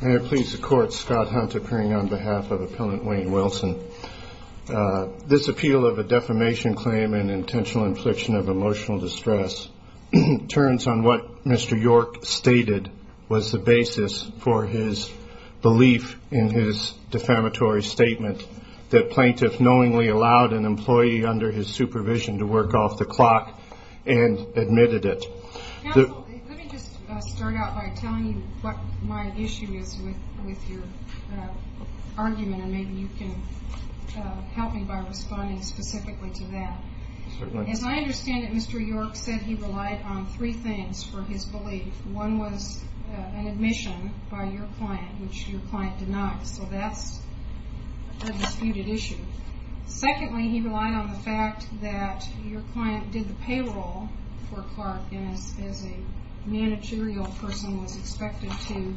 May I please the court, Scott Hunt, appearing on behalf of Appellant Wayne Wilson. This appeal of a defamation claim and intentional infliction of emotional distress turns on what Mr. York stated was the basis for his belief in his defamatory statement that plaintiffs knowingly allowed an employee under his supervision to work off the clock and admitted it. Counsel, let me just start out by telling you what my issue is with your argument and maybe you can help me by responding specifically to that. Certainly. As I understand it, Mr. York said he relied on three things for his belief. One was an admission by your client, which your client denied, so that's a disputed issue. Secondly, he relied on the fact that your client did the payroll for Clark and as a managerial person was expected to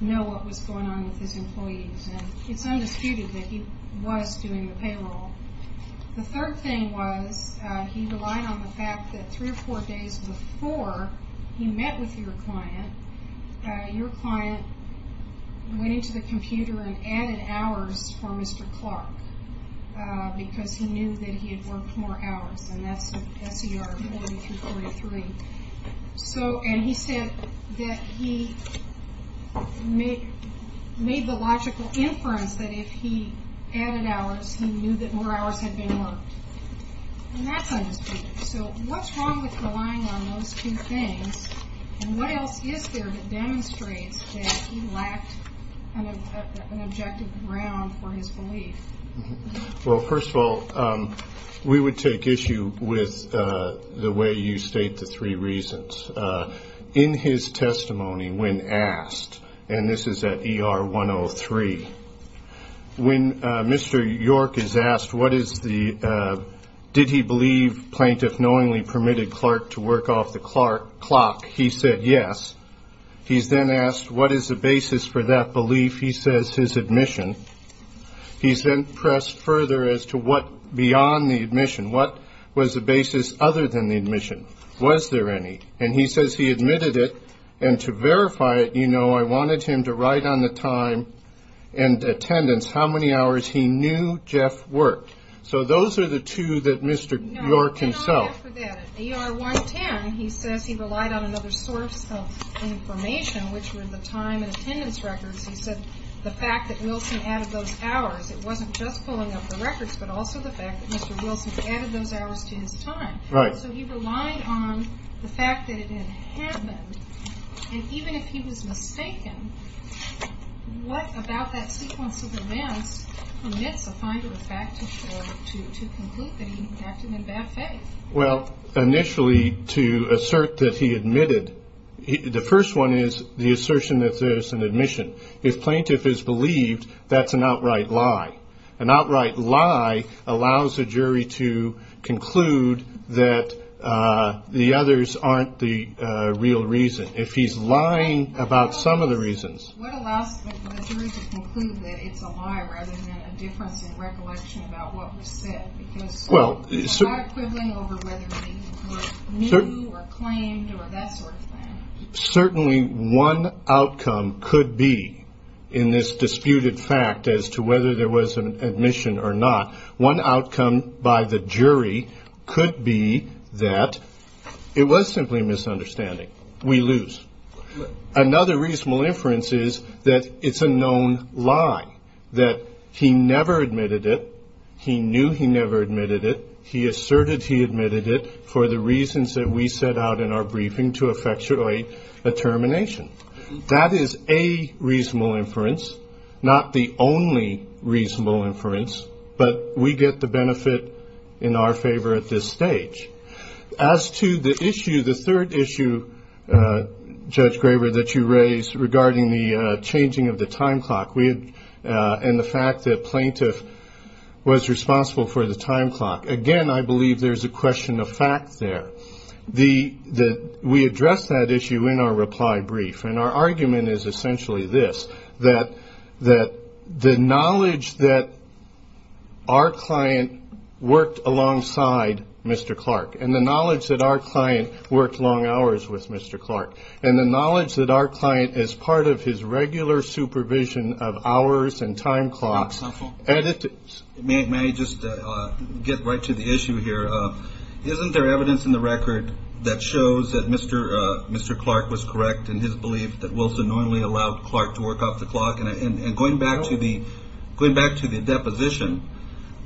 know what was going on with his employees. It's undisputed that he was doing the payroll. The third thing was he relied on the fact that three or four days before he met with your client, your client went into the computer and added hours for Mr. Clark because he knew that he had worked more hours, and that's S.E.R. 4343. And he said that he made the logical inference that if he added hours, he knew that more hours had been worked, and that's undisputed. So what's wrong with relying on those two things, and what else is there that demonstrates that he lacked an objective ground for his belief? Well, first of all, we would take issue with the way you state the three reasons. In his testimony when asked, and this is at ER 103, when Mr. York is asked, what is the, did he believe plaintiff knowingly permitted Clark to work off the clock, he said yes. He's then asked, what is the basis for that belief? He says his admission. He's then pressed further as to what, beyond the admission, what was the basis other than the admission? Was there any? And he says he admitted it, and to verify it, you know, I wanted him to write on the time and attendance how many hours he knew Jeff worked. So those are the two that Mr. York himself. No, I did not ask for that. At ER 110, he says he relied on another source of information, which were the time and attendance records. He said the fact that Wilson added those hours, it wasn't just pulling up the records, but also the fact that Mr. Wilson added those hours to his time. Right. So he relied on the fact that it had happened. And even if he was mistaken, what about that sequence of events permits a finder of fact to conclude that he acted in bad faith? Well, initially, to assert that he admitted, the first one is the assertion that there's an admission. If plaintiff is believed, that's an outright lie. An outright lie allows a jury to conclude that the others aren't the real reason. If he's lying about some of the reasons. What allows a jury to conclude that it's a lie rather than a difference in recollection about what was said? Because there's a lot of quibbling over whether he knew or claimed or that sort of thing. Certainly, one outcome could be in this disputed fact as to whether there was an admission or not. One outcome by the jury could be that it was simply a misunderstanding. We lose. Another reasonable inference is that it's a known lie, that he never admitted it. He knew he never admitted it. He asserted he admitted it for the reasons that we set out in our briefing to effectuate a termination. That is a reasonable inference, not the only reasonable inference. But we get the benefit in our favor at this stage. As to the issue, the third issue, Judge Graber, that you raised regarding the changing of the time clock, and the fact that plaintiff was responsible for the time clock. Again, I believe there's a question of fact there. We addressed that issue in our reply brief, and our argument is essentially this, that the knowledge that our client worked alongside Mr. Clark, and the knowledge that our client worked long hours with Mr. Clark, and the knowledge that our client, as part of his regular supervision of hours and time clocks. May I just get right to the issue here? Isn't there evidence in the record that shows that Mr. Clark was correct in his belief that Wilson normally allowed Clark to work off the clock? And going back to the deposition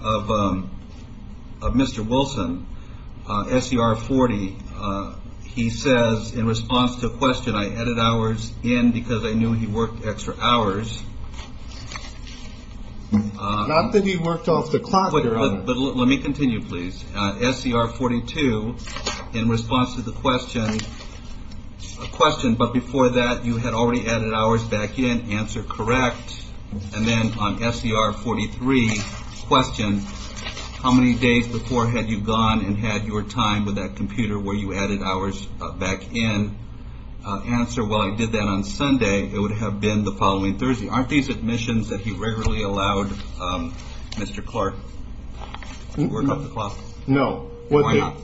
of Mr. Wilson, SCR 40, he says, in response to a question, I added hours in because I knew he worked extra hours. Not that he worked off the clock. But let me continue, please. SCR 42, in response to the question, a question, but before that you had already added hours back in, answer correct. And then on SCR 43, question, how many days before had you gone and had your time with that computer where you added hours back in? Answer, well, I did that on Sunday. It would have been the following Thursday. Aren't these admissions that he regularly allowed Mr. Clark to work off the clock? No. Why not?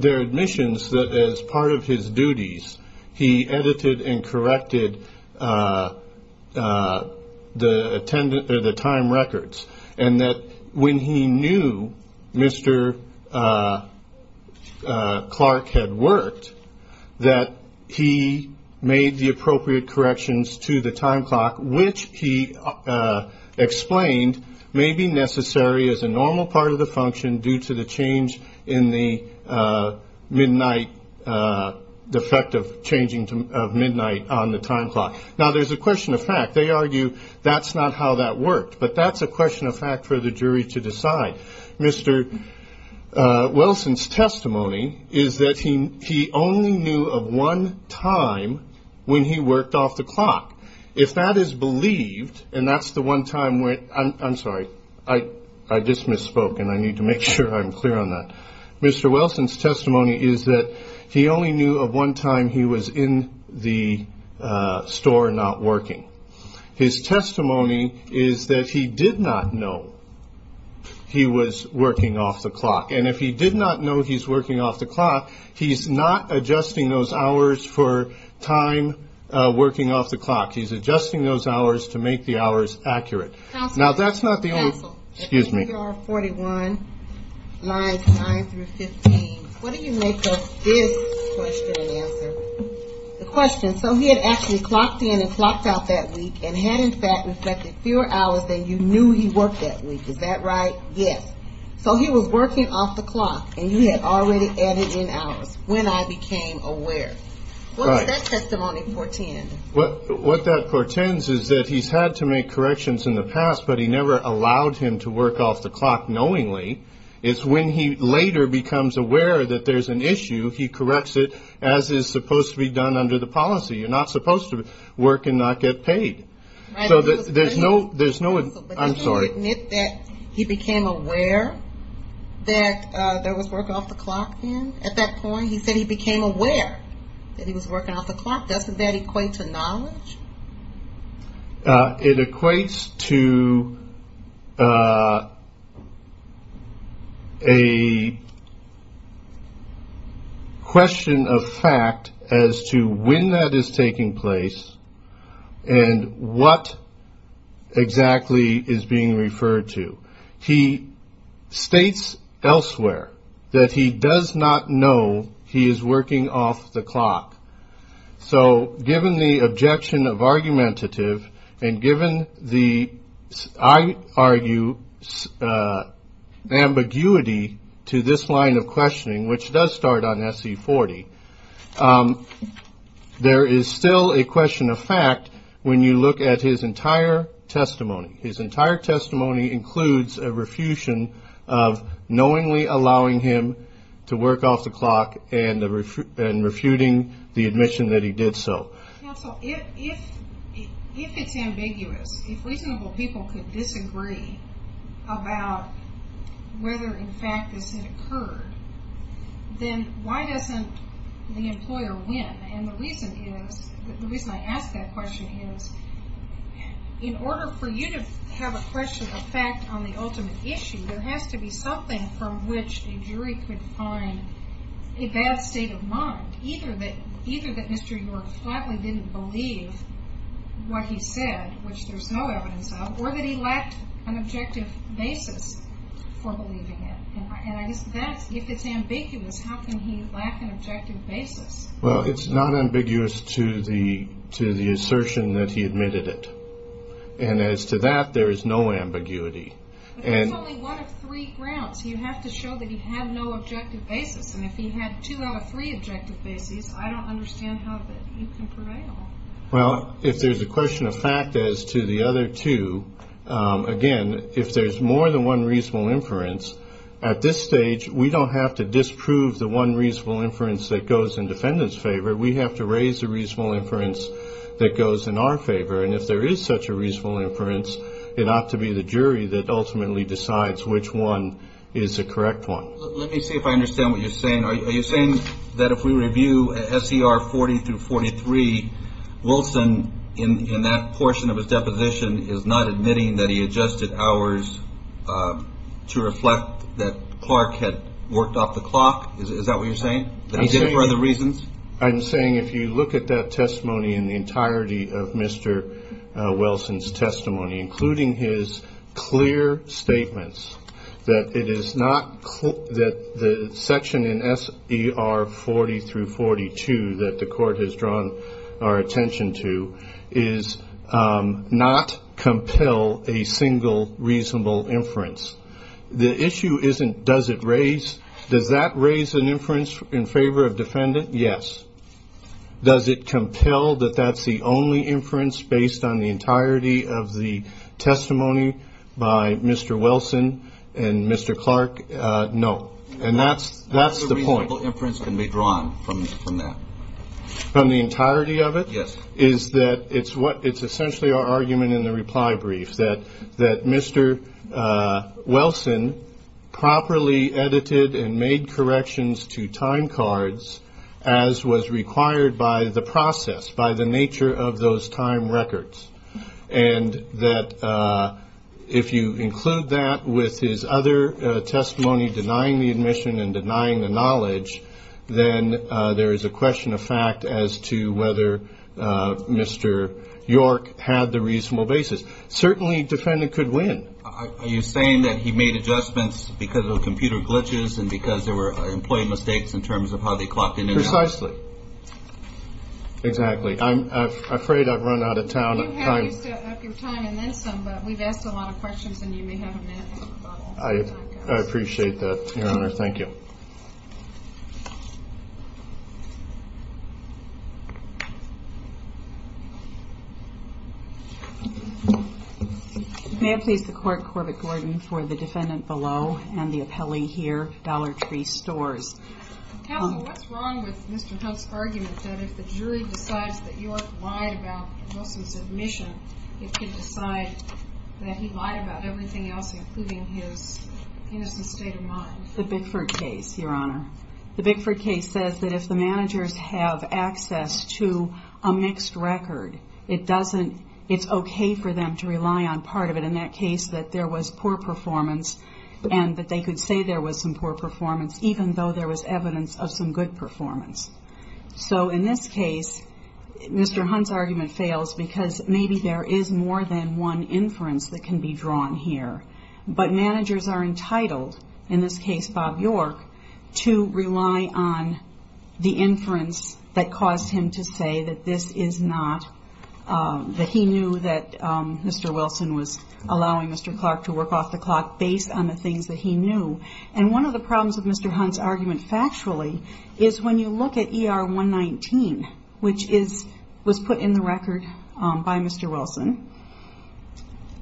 They're admissions that as part of his duties he edited and corrected the time records and that when he knew Mr. Clark had worked, that he made the appropriate corrections to the time clock, which he explained may be necessary as a normal part of the function due to the change in the midnight, the effect of changing of midnight on the time clock. Now, there's a question of fact. They argue that's not how that worked. But that's a question of fact for the jury to decide. Mr. Wilson's testimony is that he only knew of one time when he worked off the clock. If that is believed, and that's the one time when, I'm sorry, I just misspoke, and I need to make sure I'm clear on that. Mr. Wilson's testimony is that he only knew of one time he was in the store not working. His testimony is that he did not know he was working off the clock. And if he did not know he's working off the clock, he's not adjusting those hours for time working off the clock. He's adjusting those hours to make the hours accurate. Now, that's not the only. Excuse me. What do you make of this question and answer? The question, so he had actually clocked in and clocked out that week and had, in fact, reflected fewer hours than you knew he worked that week. Is that right? Yes. So he was working off the clock, and you had already added in hours when I became aware. What does that testimony portend? What that portends is that he's had to make corrections in the past, but he never allowed him to work off the clock knowingly. It's when he later becomes aware that there's an issue, he corrects it as is supposed to be done under the policy. You're not supposed to work and not get paid. So there's no, I'm sorry. Did you admit that he became aware that there was work off the clock then? At that point, he said he became aware that he was working off the clock. Doesn't that equate to knowledge? It equates to a question of fact as to when that is taking place and what exactly is being referred to. He states elsewhere that he does not know he is working off the clock. So given the objection of argumentative and given the, I argue, ambiguity to this line of questioning, which does start on SC40, there is still a question of fact when you look at his entire testimony. His entire testimony includes a refutation of knowingly allowing him to work off the clock and refuting the admission that he did so. Counsel, if it's ambiguous, if reasonable people could disagree about whether in fact this had occurred, then why doesn't the employer win? And the reason is, the reason I ask that question is, in order for you to have a question of fact on the ultimate issue, there has to be something from which a jury could find a bad state of mind. Either that Mr. York flatly didn't believe what he said, which there's no evidence of, or that he lacked an objective basis for believing it. And if it's ambiguous, how can he lack an objective basis? Well, it's not ambiguous to the assertion that he admitted it. And as to that, there is no ambiguity. There's only one of three grounds. You have to show that he had no objective basis. And if he had two out of three objective basis, I don't understand how you can prevail. Well, if there's a question of fact as to the other two, again, if there's more than one reasonable inference, at this stage, we don't have to disprove the one reasonable inference that goes in defendant's favor. We have to raise the reasonable inference that goes in our favor. And if there is such a reasonable inference, it ought to be the jury that ultimately decides which one is the correct one. Let me see if I understand what you're saying. Are you saying that if we review SCR 40 through 43, Wilson in that portion of his deposition is not admitting that he adjusted hours to reflect that Clark had worked off the clock? Is that what you're saying, that he did it for other reasons? I'm saying if you look at that testimony in the entirety of Mr. Wilson's testimony, including his clear statements that the section in SCR 40 through 42 that the court has drawn our attention to, is not compel a single reasonable inference. The issue isn't does it raise, does that raise an inference in favor of defendant? Yes. Does it compel that that's the only inference based on the entirety of the testimony by Mr. Wilson and Mr. Clark? No. And that's the point. No reasonable inference can be drawn from that. From the entirety of it? Yes. Is that it's what it's essentially our argument in the reply brief, that Mr. Wilson properly edited and made corrections to time cards as was required by the process, by the nature of those time records, and that if you include that with his other testimony denying the admission and denying the knowledge, then there is a question of fact as to whether Mr. York had the reasonable basis. Certainly defendant could win. Are you saying that he made adjustments because of computer glitches and because there were employee mistakes in terms of how they clocked in and out? Precisely. Exactly. I'm afraid I've run out of time. You have your time and then some, but we've asked a lot of questions and you may have a minute. I appreciate that, Your Honor. Thank you. May it please the Court, Corbett Gordon, for the defendant below and the appellee here, Dollar Tree Stores. Counsel, what's wrong with Mr. Hunt's argument that if the jury decides that York lied about Wilson's admission, it can decide that he lied about everything else, including his innocent state of mind? The Bickford case, Your Honor. The Bickford case says that if the managers have access to a mixed record, it's okay for them to rely on part of it in that case that there was poor performance and that they could say there was some poor performance even though there was evidence of some good performance. So in this case, Mr. Hunt's argument fails because maybe there is more than one inference that can be drawn here, but managers are entitled, in this case Bob York, to rely on the inference that caused him to say that this is not, that he knew that Mr. Wilson was allowing Mr. Clark to work off the clock based on the things that he knew. And one of the problems with Mr. Hunt's argument factually is when you look at ER 119, which was put in the record by Mr. Wilson,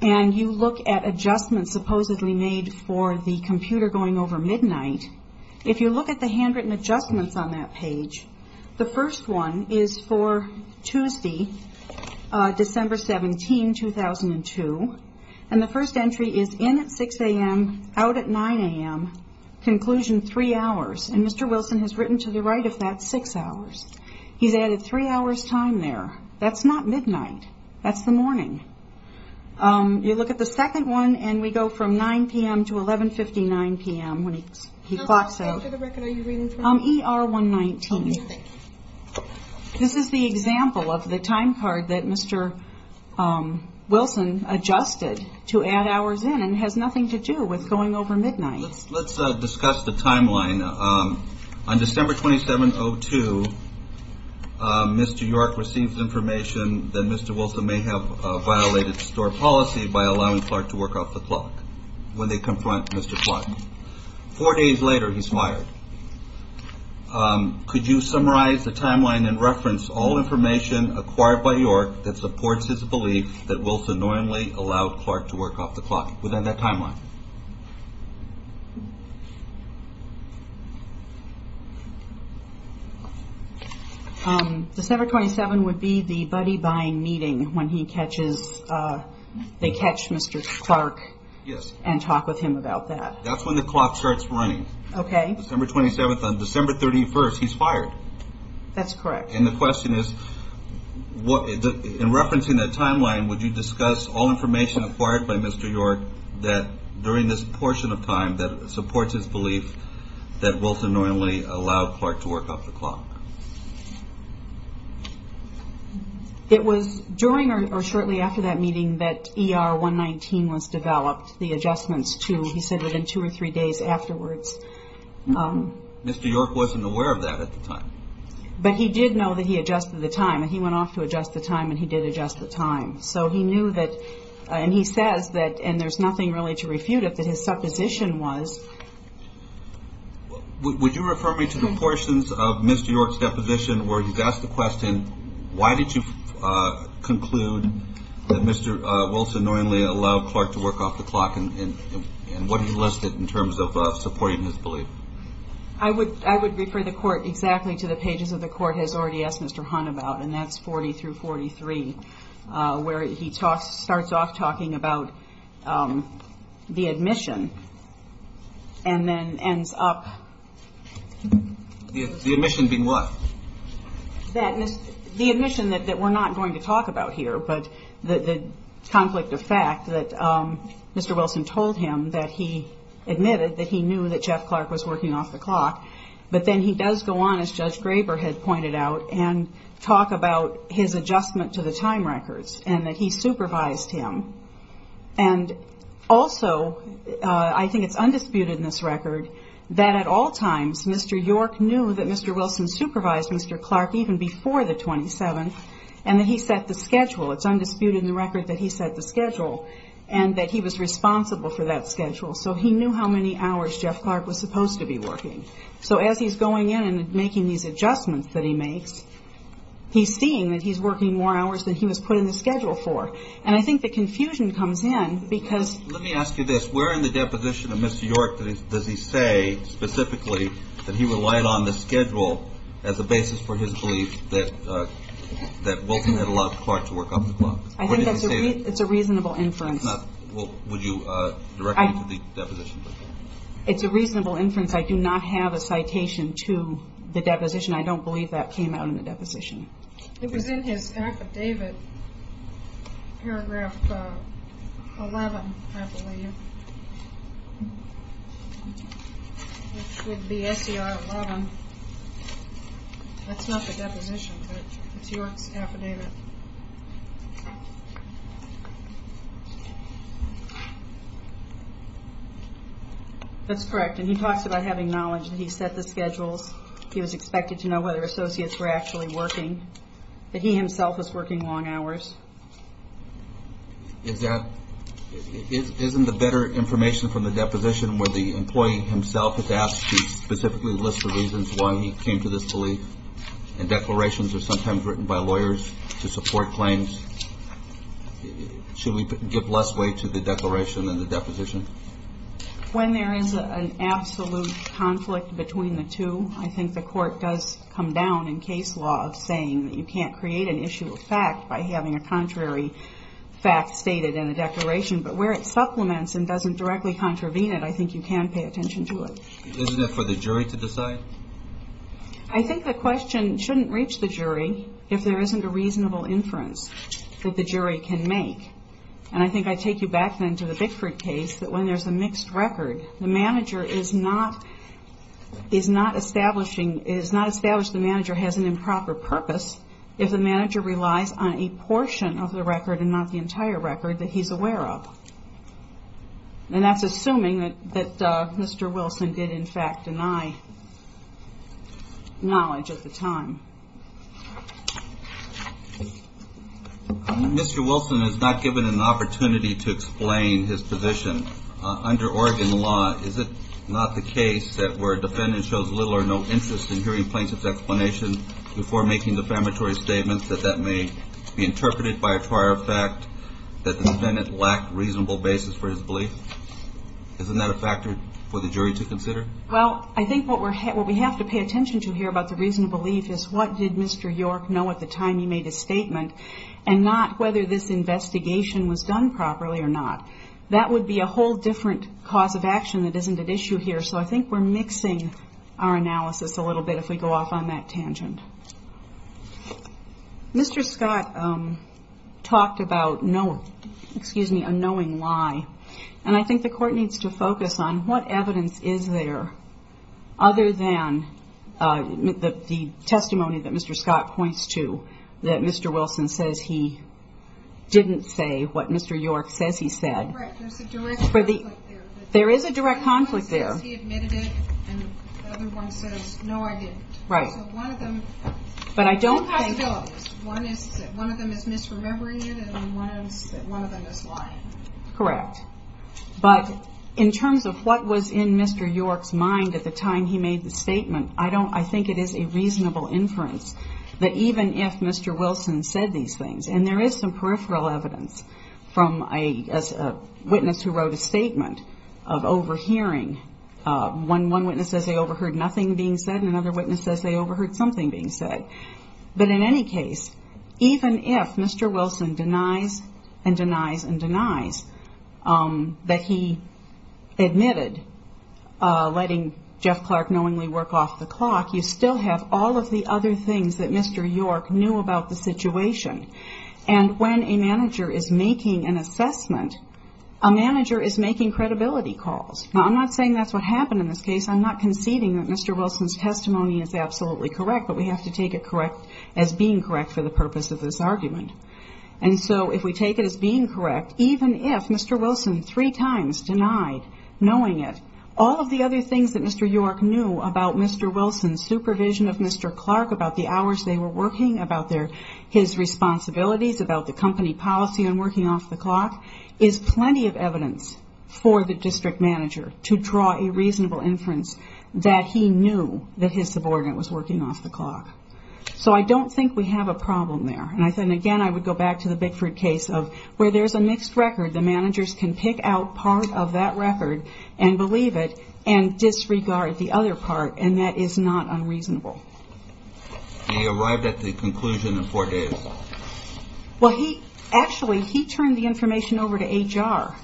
and you look at adjustments supposedly made for the computer going over midnight, if you look at the handwritten adjustments on that page, the first one is for Tuesday, December 17, 2002, and the first entry is in at 6 a.m., out at 9 a.m., conclusion 3 hours. And Mr. Wilson has written to the right of that 6 hours. He's added 3 hours' time there. That's not midnight. That's the morning. You look at the second one, and we go from 9 p.m. to 11.59 p.m. when he clocks out. So what page of the record are you reading from? ER 119. Oh, okay. This is the example of the time card that Mr. Wilson adjusted to add hours in, and it has nothing to do with going over midnight. Let's discuss the timeline. On December 27, 2002, Mr. York receives information that Mr. Wilson may have violated store policy by allowing Clark to work off the clock when they confront Mr. Clark. Four days later, he's fired. Could you summarize the timeline and reference all information acquired by York that supports his belief that Wilson normally allowed Clark to work off the clock within that timeline? December 27 would be the buddy buying meeting when they catch Mr. Clark and talk with him about that. That's when the clock starts running. Okay. December 27th. On December 31st, he's fired. That's correct. And the question is, in referencing that timeline, would you discuss all information acquired by Mr. York during this portion of time that supports his belief that Wilson normally allowed Clark to work off the clock? It was during or shortly after that meeting that ER 119 was developed, the adjustments to, he said, within two or three days afterwards. Mr. York wasn't aware of that at the time. But he did know that he adjusted the time. He went off to adjust the time, and he did adjust the time. So he knew that, and he says that, and there's nothing really to refute it, that his supposition was. Would you refer me to the portions of Mr. York's deposition where he's asked the question, why did you conclude that Mr. Wilson normally allowed Clark to work off the clock, and what do you list it in terms of supporting his belief? I would refer the Court exactly to the pages that the Court has already asked Mr. Hunt about, and that's 40 through 43 where he starts off talking about the admission and then ends up. The admission being what? The admission that we're not going to talk about here, but the conflict of fact that Mr. Wilson told him that he admitted that he knew that Jeff Clark was working off the clock. But then he does go on, as Judge Graber had pointed out, and talk about his adjustment to the time records, and that he supervised him. And also, I think it's undisputed in this record, that at all times, Mr. York knew that Mr. Wilson supervised Mr. Clark even before the 27th, and that he set the schedule. It's undisputed in the record that he set the schedule, and that he was responsible for that schedule. So he knew how many hours Jeff Clark was supposed to be working. So as he's going in and making these adjustments that he makes, he's seeing that he's working more hours than he was put in the schedule for. And I think the confusion comes in because – Let me ask you this. Where in the deposition of Mr. York does he say, specifically, that he relied on the schedule as a basis for his belief that Wilson had allowed Clark to work off the clock? I think that's a reasonable inference. Would you direct me to the deposition? It's a reasonable inference. I do not have a citation to the deposition. I don't believe that came out in the deposition. It was in his affidavit, paragraph 11, I believe. It should be SCR 11. That's not the deposition, but it's York's affidavit. That's correct, and he talks about having knowledge that he set the schedules. He was expected to know whether associates were actually working. But he himself was working long hours. Isn't the better information from the deposition where the employee himself is asked to specifically list the reasons why he came to this belief? And declarations are sometimes written by lawyers to support claims. Should we give less weight to the declaration than the deposition? When there is an absolute conflict between the two, I think the court does come down in case law of saying that you can't create an issue of fact by having a contrary fact stated in a declaration. But where it supplements and doesn't directly contravene it, I think you can pay attention to it. Isn't it for the jury to decide? I think the question shouldn't reach the jury if there isn't a reasonable inference that the jury can make. And I think I take you back then to the Bickford case that when there's a mixed record, the manager is not establishing the manager has an improper purpose if the manager relies on a portion of the record and not the entire record that he's aware of. And that's assuming that Mr. Wilson did, in fact, deny knowledge at the time. Mr. Wilson is not given an opportunity to explain his position. Under Oregon law, is it not the case that where a defendant shows little or no interest in hearing plaintiff's explanation before making defamatory statements, that that may be interpreted by a prior fact, that the defendant lacked reasonable basis for his belief? Isn't that a factor for the jury to consider? Well, I think what we have to pay attention to here about the reasonable belief is what did Mr. York know at the time he made his statement and not whether this investigation was done properly or not. That would be a whole different cause of action that isn't at issue here. So I think we're mixing our analysis a little bit if we go off on that tangent. Mr. Scott talked about a knowing lie. And I think the court needs to focus on what evidence is there other than the testimony that Mr. Scott points to, that Mr. Wilson says he didn't say what Mr. York says he said. There is a direct conflict there. But in terms of what was in Mr. York's mind at the time he made the statement, I think it is a reasonable inference that even if Mr. Wilson said these things, and there is some peripheral evidence from a witness who wrote a statement of overhearing. One witness says they overheard nothing being said, and another witness says they overheard something being said. But in any case, even if Mr. Wilson denies and denies and denies that he admitted letting Jeff Clark knowingly work off the clock, you still have all of the other things that Mr. York knew about the situation. And when a manager is making an assessment, a manager is making credibility calls. Now, I'm not saying that's what happened in this case. I'm not conceding that Mr. Wilson's testimony is absolutely correct, but we have to take it as being correct for the purpose of this argument. And so if we take it as being correct, even if Mr. Wilson three times denied knowing it, all of the other things that Mr. York knew about Mr. Wilson's supervision of Mr. Clark, about the hours they were working, about his responsibilities, about the company policy and working off the clock, is plenty of evidence for the district manager to draw a reasonable inference that he knew that his subordinate was working off the clock. So I don't think we have a problem there. And again, I would go back to the Bickford case of where there's a mixed record, the managers can pick out part of that record and believe it and disregard the other part, and that is not unreasonable. And he arrived at the conclusion in four days. Well, he actually turned the information over to HR,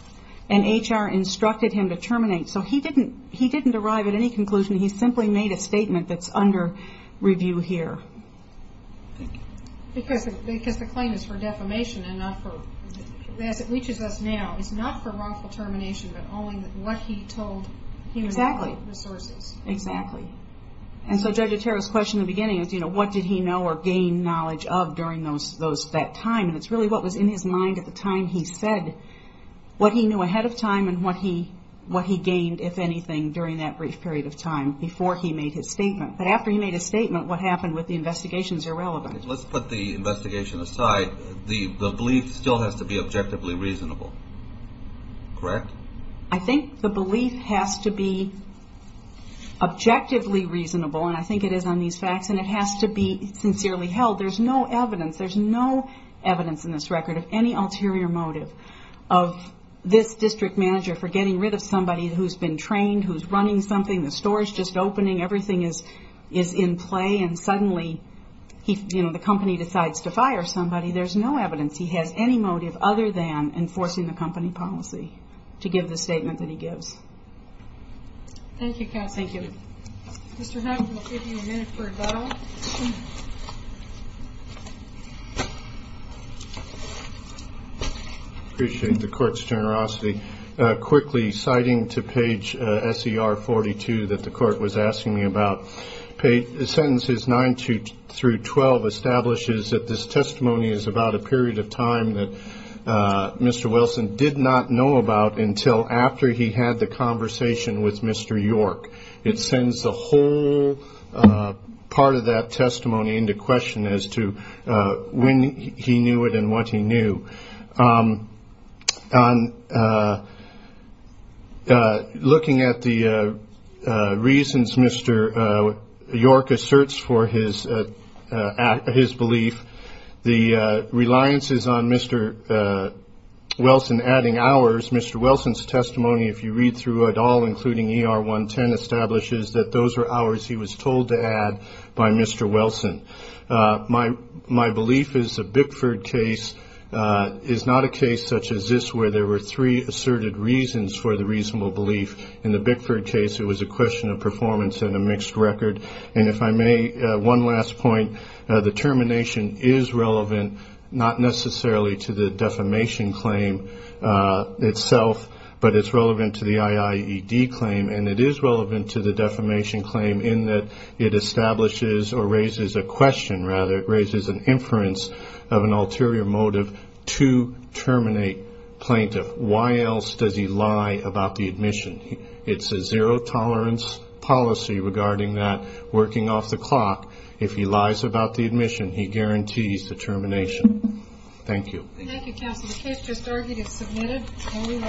and HR instructed him to terminate. So he didn't arrive at any conclusion. He simply made a statement that's under review here. Because the claim is for defamation and not for, as it reaches us now, it's not for wrongful termination but only what he told human resources. Exactly. And so Judge Otero's question in the beginning is, you know, what did he know or gain knowledge of during that time? And it's really what was in his mind at the time he said what he knew ahead of time and what he gained, if anything, during that brief period of time before he made his statement. But after he made his statement, what happened with the investigation is irrelevant. Let's put the investigation aside. The belief still has to be objectively reasonable, correct? I think the belief has to be objectively reasonable, and I think it is on these facts, and it has to be sincerely held. There's no evidence. There's no evidence in this record of any ulterior motive of this district manager for getting rid of somebody who's been trained, who's running something, the store is just opening, everything is in play, and suddenly, you know, the company decides to fire somebody. There's no evidence he has any motive other than enforcing the company policy to give the statement that he gives. Thank you, Cassie. Thank you. Mr. Hunt, we'll give you a minute for a vote. I appreciate the court's generosity. Quickly, citing to page SER 42 that the court was asking me about, sentences 9 through 12 establishes that this testimony is about a period of time that Mr. Wilson did not know about until after he had the conversation with Mr. York. It sends the whole part of that testimony into question as to when he knew it and what he knew. Looking at the reasons Mr. York asserts for his belief, the reliances on Mr. Wilson adding hours, Mr. Wilson's testimony, if you read through it all, including ER 110, establishes that those are hours he was told to add by Mr. Wilson. My belief is the Bickford case is not a case such as this where there were three asserted reasons for the reasonable belief. In the Bickford case, it was a question of performance and a mixed record. And if I may, one last point, the termination is relevant, not necessarily to the defamation claim. But it's relevant to the IIED claim and it is relevant to the defamation claim in that it establishes or raises a question, rather, it raises an inference of an ulterior motive to terminate plaintiff. Why else does he lie about the admission? It's a zero-tolerance policy regarding that working off the clock. If he lies about the admission, he guarantees the termination. Thank you. Thank you, counsel. The case just argued is submitted.